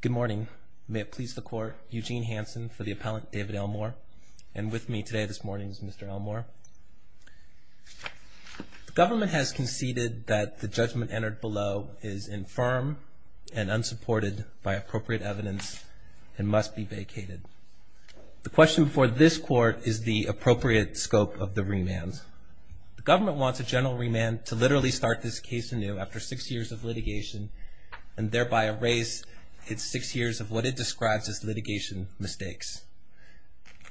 Good morning. May it please the court, Eugene Hanson for the appellant David Elmore. And with me today, this morning, is Mr. Elmore. The government has conceded that the judgment entered below is infirm and unsupported by appropriate evidence and must be vacated. The question before this court is the appropriate scope of the remand. The government wants a general remand to literally start this case anew after six years of litigation and thereby erase its six years of what it describes as litigation mistakes.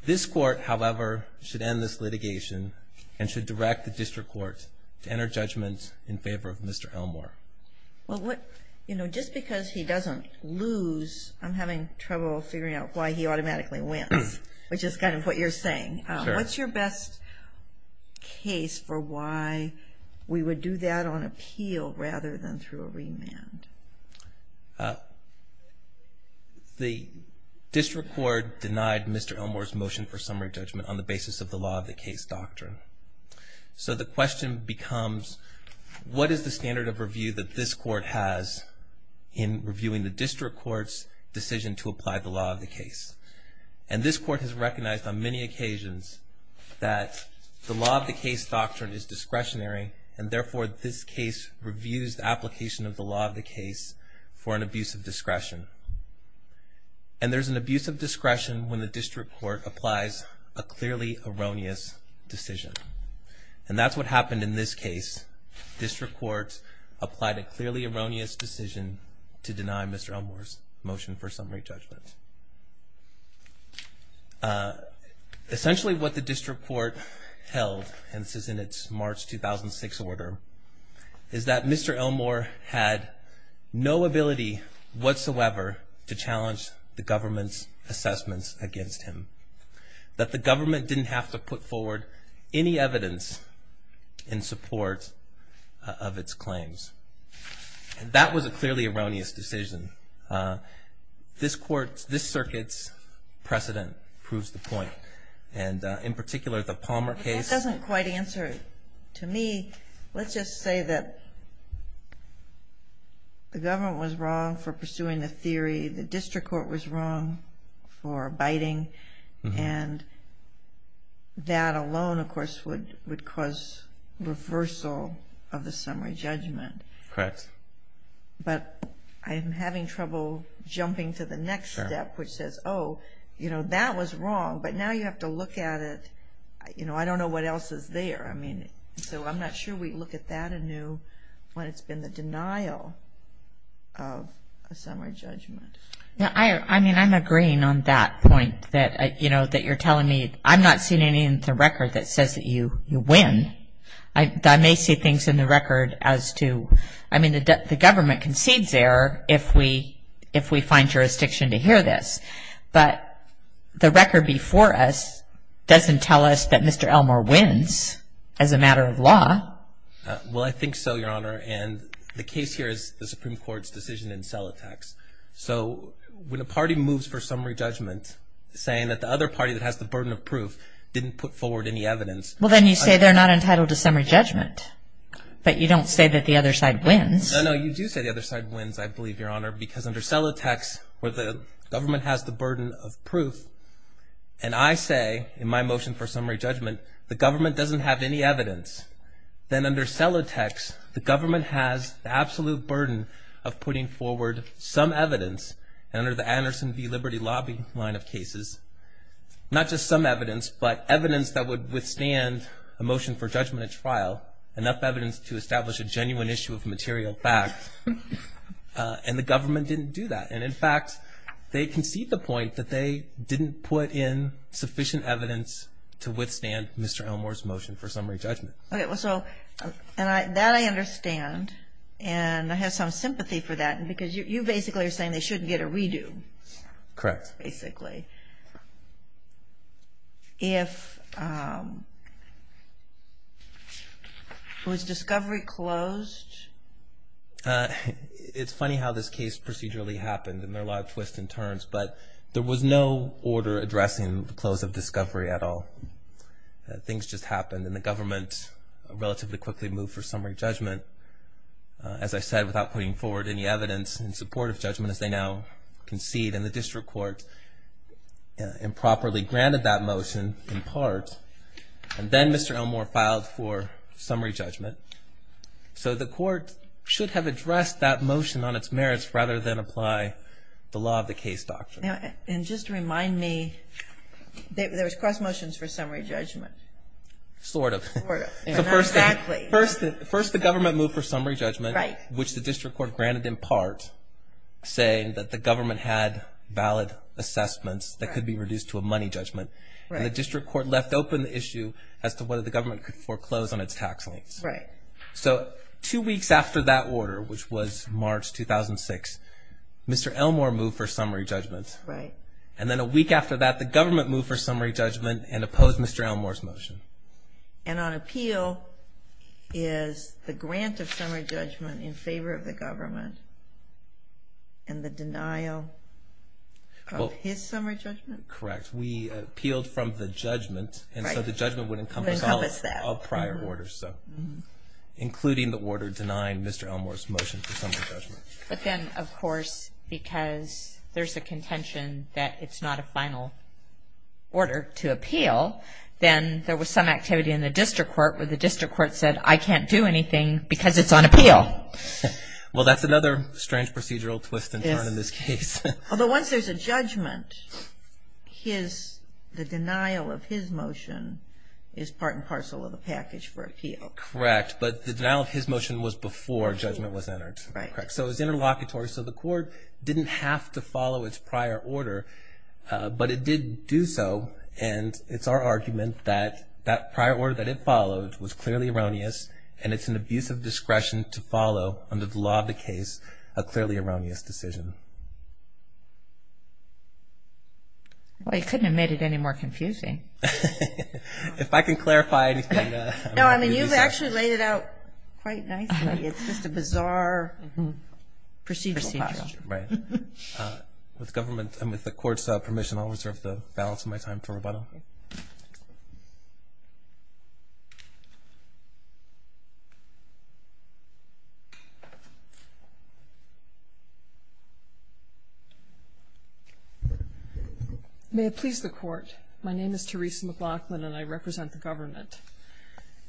This court, however, should end this litigation and should direct the district court to enter judgment in favor of Mr. Elmore. Well, just because he doesn't lose, I'm having trouble figuring out why he automatically wins, which is kind of what you're saying. What's your best case for why we would do that on appeal rather than through a remand? The district court denied Mr. Elmore's motion for summary judgment on the basis of the law of the case doctrine. So the question becomes, what is the standard of review that this court has in reviewing the district court's decision to apply the law of the case? And this court has recognized on many occasions that the law of the case doctrine is discretionary and therefore this case reviews the application of the law of the case for an abuse of discretion. And there's an abuse of discretion when the district court applies a clearly erroneous decision. And that's what happened in this case. District court applied a clearly erroneous decision to deny Mr. Elmore's motion for summary judgment. Essentially what the district court held, and this is in its March 2006 order, is that Mr. Elmore had no ability whatsoever to challenge the government's assessments against him. That the government didn't have to put forward any evidence in support of its claims. And that was a clearly erroneous decision. This court's, this circuit's precedent proves the point. And in particular the Palmer case. That doesn't quite answer to me. Let's just say that the government was wrong for pursuing the theory. Let's just say the district court was wrong for abiding. And that alone of course would cause reversal of the summary judgment. Correct. But I'm having trouble jumping to the next step which says, oh, you know, that was wrong. But now you have to look at it, you know, I don't know what else is there. I mean, so I'm not sure we look at that anew when it's been the denial of a summary judgment. I mean, I'm agreeing on that point that, you know, that you're telling me, I'm not seeing anything in the record that says that you win. I may see things in the record as to, I mean, the government concedes error if we find jurisdiction to hear this. But the record before us doesn't tell us that Mr. Elmore wins as a matter of law. Well, I think so, Your Honor. And the case here is the Supreme Court's decision in Selatex. So when a party moves for summary judgment, saying that the other party that has the burden of proof didn't put forward any evidence. Well, then you say they're not entitled to summary judgment. But you don't say that the other side wins. No, no, you do say the other side wins, I believe, Your Honor. Because under Selatex, where the government has the burden of proof, and I say in my motion for summary judgment, the government doesn't have any evidence. Then under Selatex, the government has the absolute burden of putting forward some evidence. And under the Anderson v. Liberty Lobby line of cases, not just some evidence, but evidence that would withstand a motion for judgment at trial, enough evidence to establish a genuine issue of material fact. And the government didn't do that. And, in fact, they concede the point that they didn't put in sufficient evidence to withstand Mr. Elmore's motion for summary judgment. Okay, well, so that I understand, and I have some sympathy for that, because you basically are saying they shouldn't get a redo. Correct. Basically. If, was discovery closed? It's funny how this case procedurally happened, and there are a lot of twists and turns. But there was no order addressing the close of discovery at all. Things just happened, and the government relatively quickly moved for summary judgment. As I said, without putting forward any evidence in support of judgment, as they now concede, and the district court improperly granted that motion in part, and then Mr. Elmore filed for summary judgment. So the court should have addressed that motion on its merits rather than apply the law of the case doctrine. And just to remind me, there was cross motions for summary judgment. Sort of. Sort of. Not exactly. First the government moved for summary judgment, which the district court granted in part, saying that the government had valid assessments that could be reduced to a money judgment. And the district court left open the issue as to whether the government could foreclose on its tax rates. Right. So two weeks after that order, which was March 2006, Mr. Elmore moved for summary judgment. Right. And then a week after that, the government moved for summary judgment and opposed Mr. Elmore's motion. And on appeal is the grant of summary judgment in favor of the government and the denial of his summary judgment? Correct. We appealed from the judgment, and so the judgment would encompass all prior orders, including the order denying Mr. Elmore's motion for summary judgment. But then, of course, because there's a contention that it's not a final order to appeal, then there was some activity in the district court where the district court said, I can't do anything because it's on appeal. Well, that's another strange procedural twist and turn in this case. Although once there's a judgment, the denial of his motion is part and parcel of the package for appeal. Correct. But the denial of his motion was before judgment was entered. Correct. So it was interlocutory. So the court didn't have to follow its prior order, but it did do so. And it's our argument that that prior order that it followed was clearly erroneous, and it's an abuse of discretion to follow, under the law of the case, a clearly erroneous decision. Well, you couldn't have made it any more confusing. If I can clarify anything. No, I mean, you've actually laid it out quite nicely. It's just a bizarre procedural posture. Right. With government and with the court's permission, I'll reserve the balance of my time to rebuttal. May it please the court. My name is Theresa McLaughlin, and I represent the government.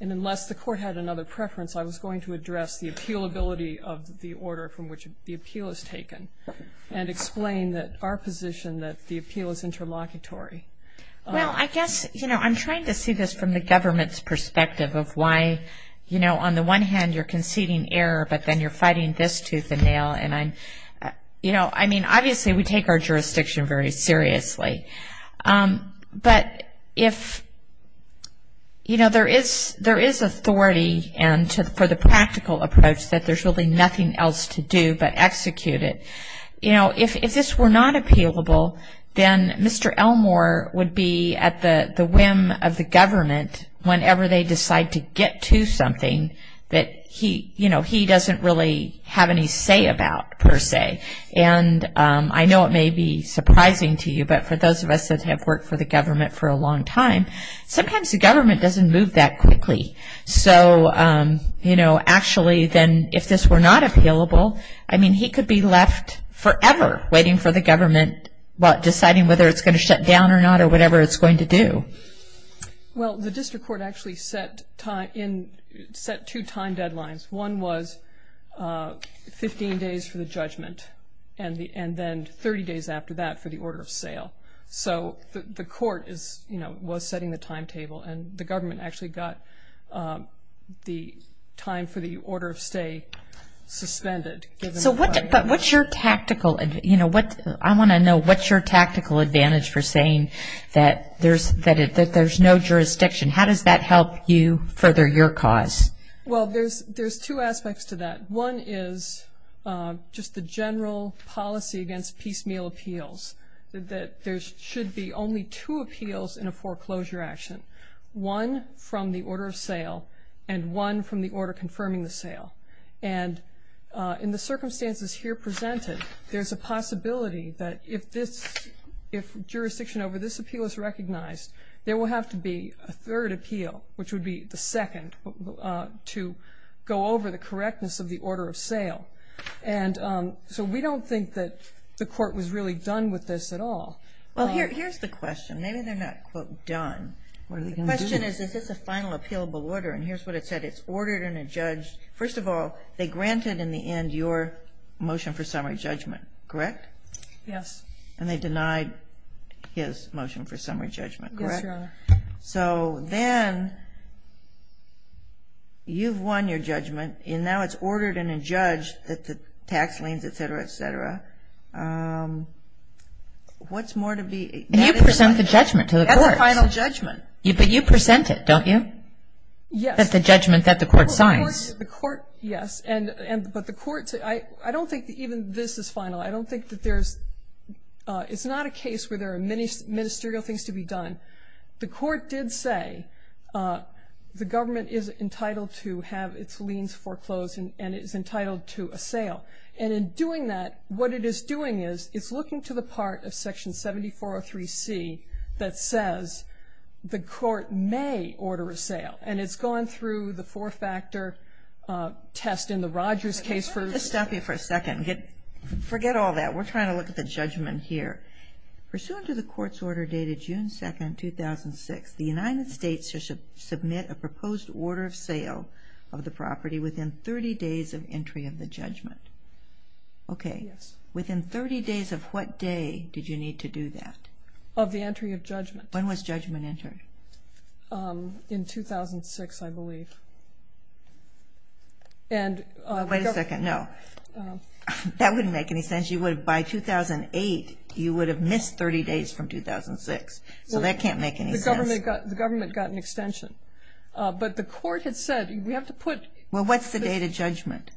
And unless the court had another preference, I was going to address the appealability of the order from which the appeal is taken and explain that our position that the appeal is interlocutory. Well, I guess, you know, I'm trying to see this from the government's perspective of why, you know, on the one hand you're conceding error, but then you're fighting this tooth and nail. And, you know, I mean, obviously we take our jurisdiction very seriously. But if, you know, there is authority for the practical approach that there's really nothing else to do but execute it. You know, if this were not appealable, then Mr. Elmore would be at the whim of the government whenever they decide to get to something that he, you know, he doesn't really have any say about, per se. And I know it may be surprising to you, but for those of us that have worked for the government for a long time, sometimes the government doesn't move that quickly. So, you know, actually then if this were not appealable, I mean, he could be left forever waiting for the government deciding whether it's going to shut down or not or whatever it's going to do. Well, the district court actually set two time deadlines. One was 15 days for the judgment and then 30 days after that for the order of sale. So the court is, you know, was setting the timetable, and the government actually got the time for the order of stay suspended. So what's your tactical, you know, I want to know, what's your tactical advantage for saying that there's no jurisdiction? How does that help you further your cause? Well, there's two aspects to that. One is just the general policy against piecemeal appeals, that there should be only two appeals in a foreclosure action, one from the order of sale and one from the order confirming the sale. And in the circumstances here presented, there's a possibility that if jurisdiction over this appeal is recognized, there will have to be a third appeal, which would be the second to go over the correctness of the order of sale. And so we don't think that the court was really done with this at all. Well, here's the question. Maybe they're not, quote, done. The question is, is this a final appealable order? And here's what it said. It's ordered and adjudged. First of all, they granted in the end your motion for summary judgment, correct? Yes. And they denied his motion for summary judgment, correct? Yes, Your Honor. So then you've won your judgment, and now it's ordered and adjudged that the tax liens, et cetera, et cetera. What's more to be ---- And you present the judgment to the courts. That's a final judgment. But you present it, don't you? Yes. That's the judgment that the court signs. The court, yes. But the courts, I don't think that even this is final. I don't think that there's ---- It's not a case where there are many ministerial things to be done. The court did say the government is entitled to have its liens foreclosed and is entitled to a sale. And in doing that, what it is doing is it's looking to the part of Section 7403C that says the court may order a sale. And it's gone through the four-factor test in the Rogers case for ---- Let me just stop you for a second. Forget all that. We're trying to look at the judgment here. Pursuant to the court's order dated June 2, 2006, the United States should submit a proposed order of sale of the property within 30 days of entry of the judgment. Okay. Yes. Within 30 days of what day did you need to do that? Of the entry of judgment. When was judgment entered? In 2006, I believe. Wait a second. No. That wouldn't make any sense. By 2008, you would have missed 30 days from 2006. So that can't make any sense. The government got an extension. But the court had said we have to put ---- Well, what's the date of judgment?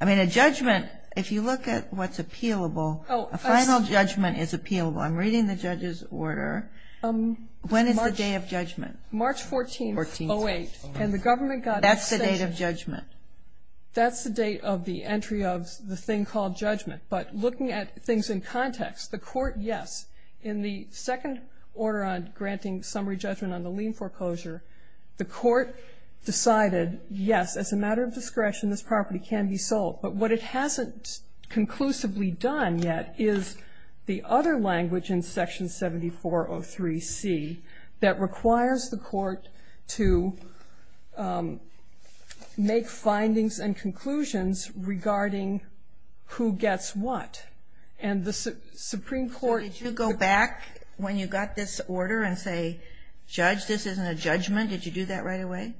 I mean, a judgment, if you look at what's appealable, a final judgment is appealable. When is the day of judgment? March 14, 2008. And the government got an extension. That's the date of judgment. That's the date of the entry of the thing called judgment. But looking at things in context, the court, yes, in the second order on granting summary judgment on the lien foreclosure, the court decided, yes, as a matter of discretion, this property can be sold. But what it hasn't conclusively done yet is the other language in Section 7403C that requires the court to make findings and conclusions regarding who gets what. And the Supreme Court ---- Did you go back when you got this order and say, Judge, this isn't a judgment? Did you do that right away?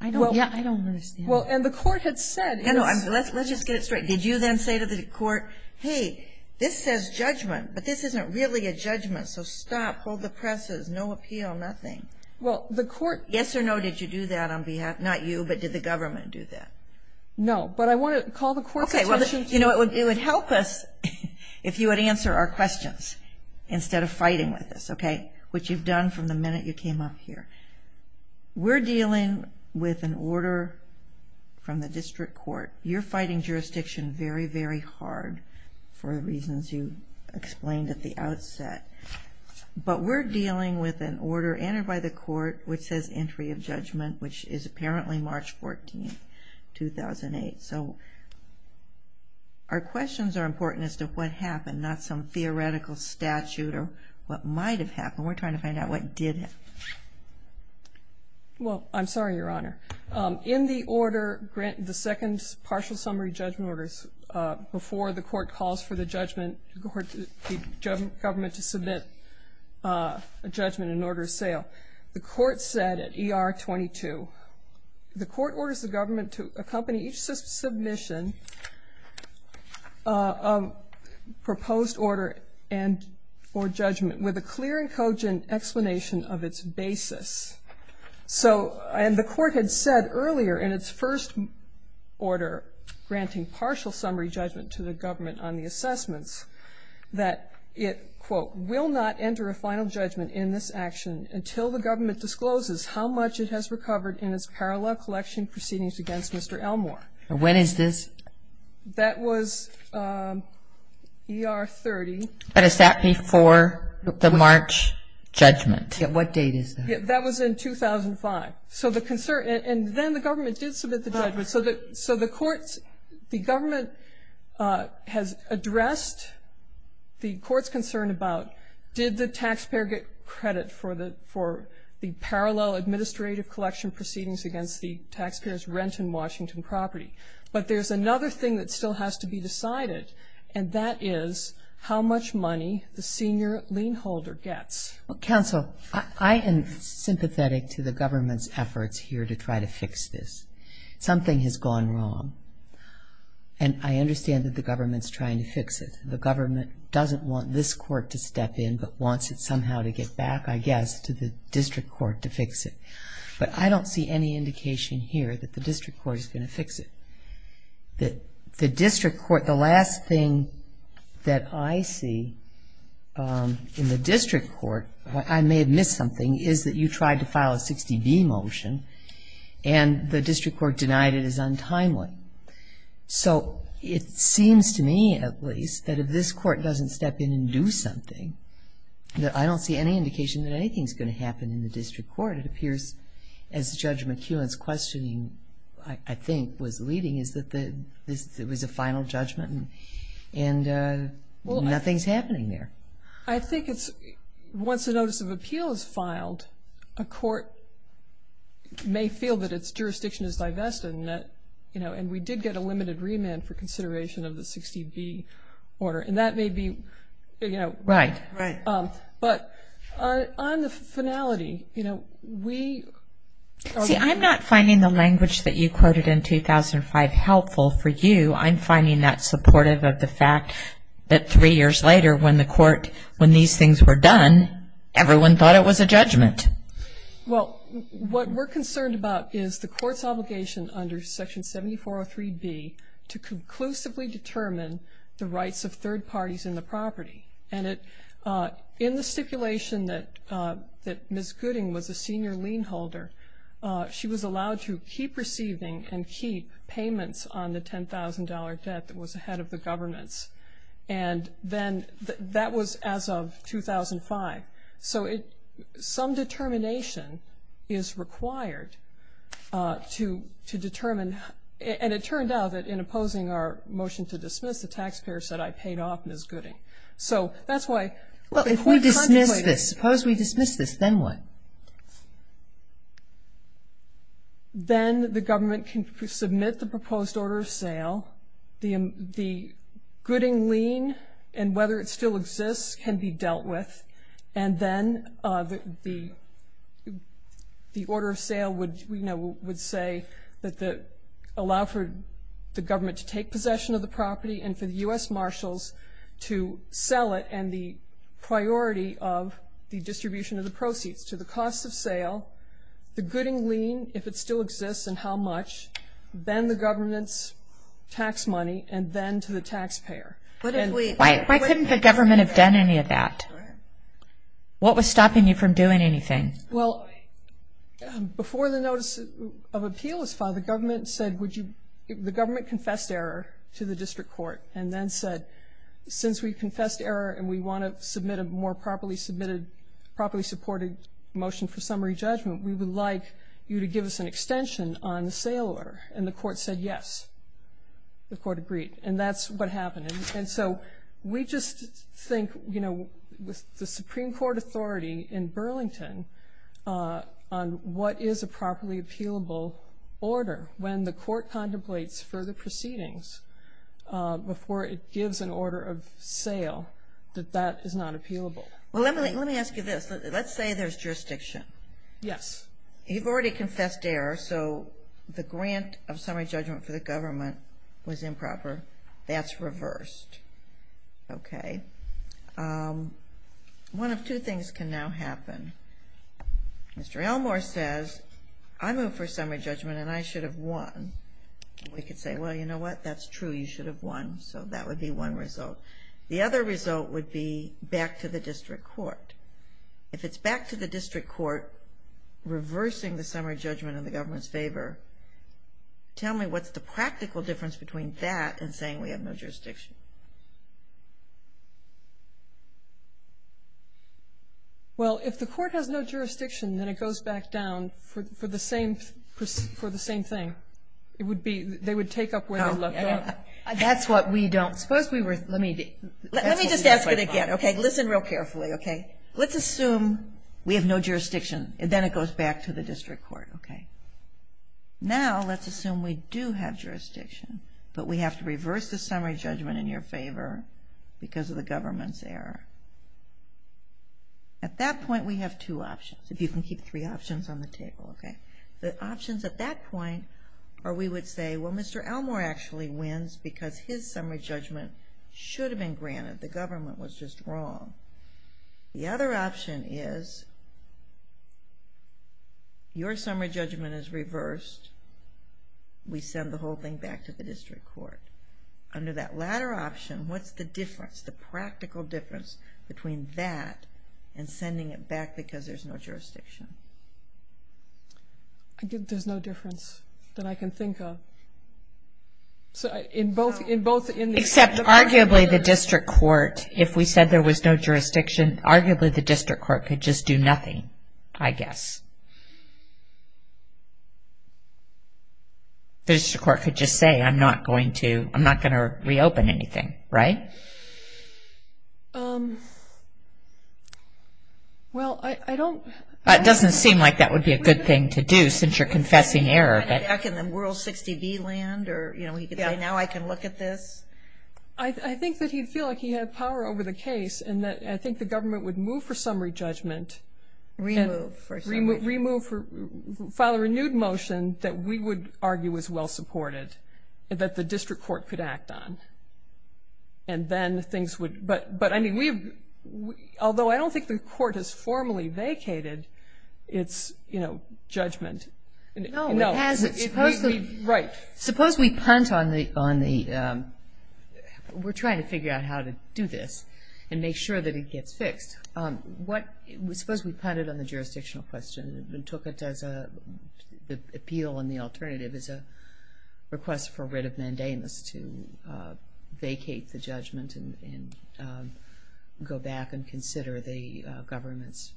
I don't understand. Well, and the court had said ---- Let's just get it straight. Did you then say to the court, hey, this says judgment, but this isn't really a judgment, so stop, hold the presses, no appeal, nothing. Well, the court ---- Yes or no, did you do that on behalf, not you, but did the government do that? No, but I want to call the court's attention to ---- Okay, well, you know, it would help us if you would answer our questions instead of fighting with us, okay, which you've done from the minute you came up here. We're dealing with an order from the district court. You're fighting jurisdiction very, very hard for the reasons you explained at the outset. But we're dealing with an order entered by the court which says entry of judgment, which is apparently March 14th, 2008. So our questions are important as to what happened, not some theoretical statute or what might have happened. We're trying to find out what did happen. Well, I'm sorry, Your Honor. In the order, the second partial summary judgment orders, before the court calls for the government to submit a judgment in order of sale, the court said at ER 22, the court orders the government to accompany each submission of proposed order for judgment with a clear and cogent explanation of its basis. So the court had said earlier in its first order granting partial summary judgment to the government on the assessments that it, quote, will not enter a final judgment in this action until the government discloses how much it has recovered in its parallel collection proceedings against Mr. Elmore. When is this? That was ER 30. But is that before the March judgment? What date is that? That was in 2005. And then the government did submit the judgment. So the government has addressed the court's concern about, did the taxpayer get credit for the parallel administrative collection proceedings against the taxpayer's rent in Washington property? But there's another thing that still has to be decided, and that is how much money the senior lien holder gets. Well, counsel, I am sympathetic to the government's efforts here to try to fix this. Something has gone wrong, and I understand that the government is trying to fix it. The government doesn't want this court to step in, but wants it somehow to get back, I guess, to the district court to fix it. But I don't see any indication here that the district court is going to fix it. The district court, the last thing that I see in the district court, I may have missed something, is that you tried to file a 60B motion, and the district court denied it as untimely. So it seems to me, at least, that if this court doesn't step in and do something, that I don't see any indication that anything is going to happen in the district court. It appears, as Judge McEwen's questioning, I think, was leading, is that it was a final judgment and nothing's happening there. I think once a notice of appeal is filed, a court may feel that its jurisdiction is divested, and we did get a limited remand for consideration of the 60B order, and that may be right. But on the finality, you know, we... See, I'm not finding the language that you quoted in 2005 helpful for you. I'm finding that supportive of the fact that three years later when the court, when these things were done, everyone thought it was a judgment. Well, what we're concerned about is the court's obligation under Section 7403B to conclusively determine the rights of third parties in the property. And in the stipulation that Ms. Gooding was a senior lien holder, she was allowed to keep receiving and keep payments on the $10,000 debt that was ahead of the government's. And then that was as of 2005. So some determination is required to determine. And it turned out that in opposing our motion to dismiss, the taxpayer said, I paid off Ms. Gooding. So that's why... Well, if we dismiss this, suppose we dismiss this, then what? Then the government can submit the proposed order of sale, the gooding lien and whether it still exists can be dealt with, and then the order of sale would, you know, would say that allow for the government to take possession of the property and for the U.S. Marshals to sell it and the priority of the distribution of the proceeds to the cost of sale, the gooding lien if it still exists and how much, then the government's tax money, and then to the taxpayer. Why couldn't the government have done any of that? What was stopping you from doing anything? Well, before the notice of appeal was filed, the government confessed error to the district court and then said, since we confessed error and we want to submit a more properly submitted, properly supported motion for summary judgment, we would like you to give us an extension on the sale order. And the court said yes. The court agreed, and that's what happened. And so we just think, you know, with the Supreme Court authority in Burlington on what is a properly appealable order, when the court contemplates further proceedings before it gives an order of sale, that that is not appealable. Well, let me ask you this. Let's say there's jurisdiction. Yes. You've already confessed error, so the grant of summary judgment for the government was improper. That's reversed. Okay. One of two things can now happen. Mr. Elmore says, I moved for summary judgment and I should have won. We could say, well, you know what, that's true. You should have won. So that would be one result. The other result would be back to the district court. If it's back to the district court, reversing the summary judgment in the government's favor, tell me what's the practical difference between that and saying we have no jurisdiction. Well, if the court has no jurisdiction, then it goes back down for the same thing. It would be they would take up where they left off. That's what we don't. Suppose we were. Let me just ask it again. Listen real carefully. Let's assume we have no jurisdiction, and then it goes back to the district court. Now let's assume we do have jurisdiction, but we have to reverse the summary judgment in your favor because of the government's error. At that point, we have two options, if you can keep three options on the table. The options at that point are we would say, well, Mr. Elmore actually wins because his summary judgment should have been granted. The government was just wrong. The other option is your summary judgment is reversed. We send the whole thing back to the district court. Under that latter option, what's the difference, the practical difference between that and sending it back because there's no jurisdiction? There's no difference that I can think of. Except arguably the district court, if we said there was no jurisdiction, arguably the district court could just do nothing, I guess. The district court could just say, I'm not going to reopen anything, right? Well, I don't. It doesn't seem like that would be a good thing to do since you're confessing error. Back in the World 60B land, now I can look at this? I think that he'd feel like he had power over the case and I think the government would move for summary judgment. Remove for summary judgment. File a renewed motion that we would argue was well supported that the district court could act on. Although I don't think the court has formally vacated its judgment. No, it hasn't. Suppose we punt on the, we're trying to figure out how to do this and make sure that it gets fixed. Suppose we punted on the jurisdictional question and took it as an appeal and the alternative and go back and consider the government's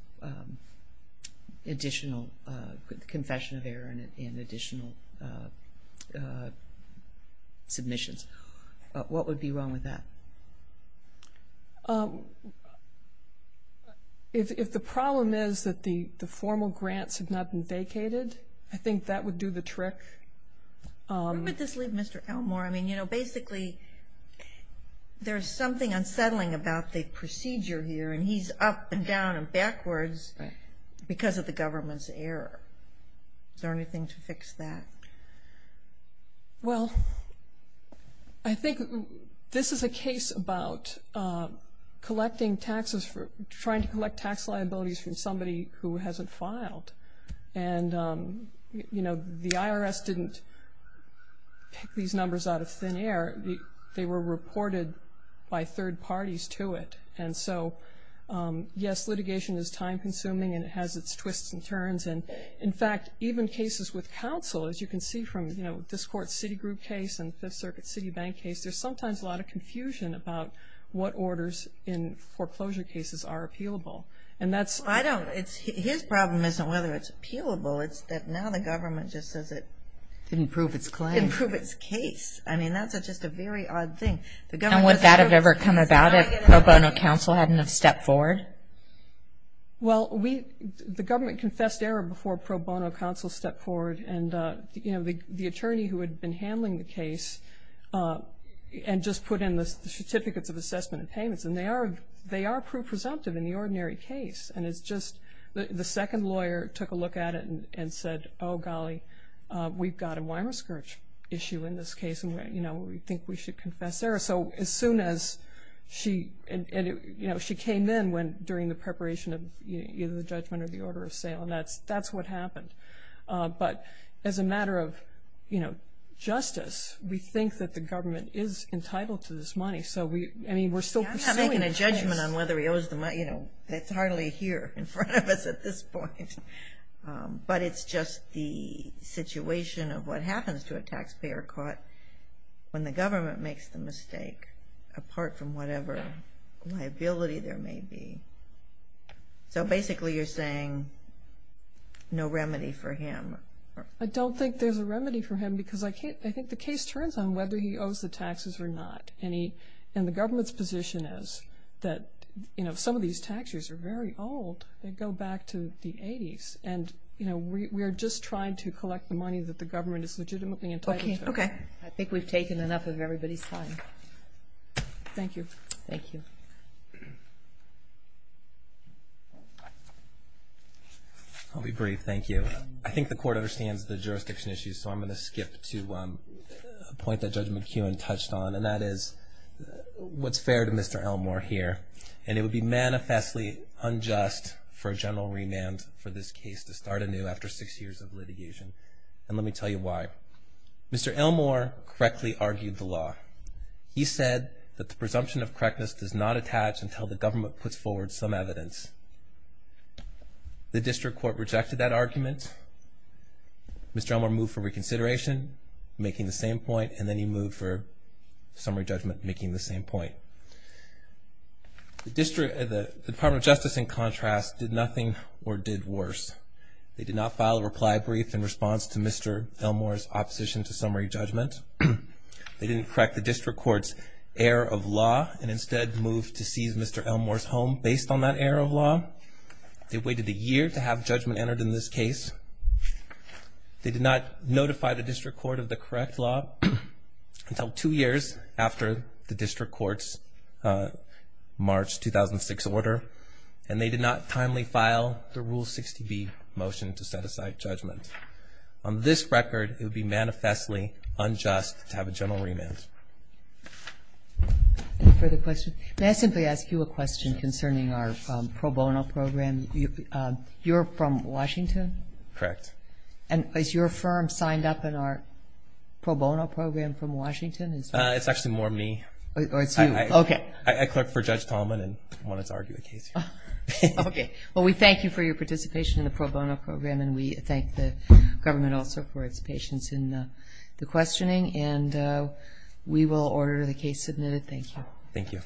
additional, confession of error and additional submissions. What would be wrong with that? If the problem is that the formal grants have not been vacated, I think that would do the trick. Where would this leave Mr. Elmore? I mean, you know, basically, there's something unsettling about the procedure here and he's up and down and backwards because of the government's error. Is there anything to fix that? Well, I think this is a case about collecting taxes, trying to collect tax liabilities from somebody who hasn't filed. And, you know, the IRS didn't pick these numbers out of thin air. They were reported by third parties to it. And so, yes, litigation is time-consuming and it has its twists and turns. And, in fact, even cases with counsel, as you can see from this court's Citigroup case and Fifth Circuit's Citibank case, there's sometimes a lot of confusion about what orders in foreclosure cases are appealable. His problem isn't whether it's appealable, it's that now the government just says it didn't prove its case. I mean, that's just a very odd thing. And would that have ever come about if pro bono counsel hadn't have stepped forward? Well, the government confessed error before pro bono counsel stepped forward and, you know, the attorney who had been handling the case and just put in the certificates of assessment and payments, and they are presumptive in the ordinary case. And it's just the second lawyer took a look at it and said, oh, golly, we've got a Weimarskirch issue in this case and, you know, we think we should confess error. So as soon as she came in during the preparation of either the judgment or the order of sale, and that's what happened. But as a matter of, you know, justice, we think that the government is entitled to this money. So, I mean, we're still pursuing the case. He's not making a judgment on whether he owes the money, you know. It's hardly here in front of us at this point. But it's just the situation of what happens to a taxpayer caught when the government makes the mistake, apart from whatever liability there may be. So basically you're saying no remedy for him. I don't think there's a remedy for him because I think the case turns on whether he owes the taxes or not. And the government's position is that, you know, some of these tax years are very old. They go back to the 80s. And, you know, we are just trying to collect the money that the government is legitimately entitled to. Okay. I think we've taken enough of everybody's time. Thank you. Thank you. I'll be brief. Thank you. I think the court understands the jurisdiction issues, so I'm going to skip to a point that Judge McKeown touched on, and that is what's fair to Mr. Elmore here. And it would be manifestly unjust for a general remand for this case to start anew after six years of litigation. And let me tell you why. Mr. Elmore correctly argued the law. He said that the presumption of correctness does not attach until the government puts forward some evidence. The district court rejected that argument. Mr. Elmore moved for reconsideration, making the same point, and then he moved for summary judgment, making the same point. The Department of Justice, in contrast, did nothing or did worse. They did not file a reply brief in response to Mr. Elmore's opposition to summary judgment. They didn't correct the district court's error of law and instead moved to seize Mr. Elmore's home based on that error of law. They waited a year to have judgment entered in this case. They did not notify the district court of the correct law until two years after the district court's March 2006 order, and they did not timely file the Rule 60B motion to set aside judgment. On this record, it would be manifestly unjust to have a general remand. Any further questions? May I simply ask you a question concerning our pro bono program? You're from Washington? Correct. Is your firm signed up in our pro bono program from Washington? It's actually more me. Oh, it's you. Okay. I clerked for Judge Tallman and wanted to argue the case. Okay. Well, we thank you for your participation in the pro bono program, and we thank the government also for its patience in the questioning, and we will order the case submitted. Thank you. Thank you.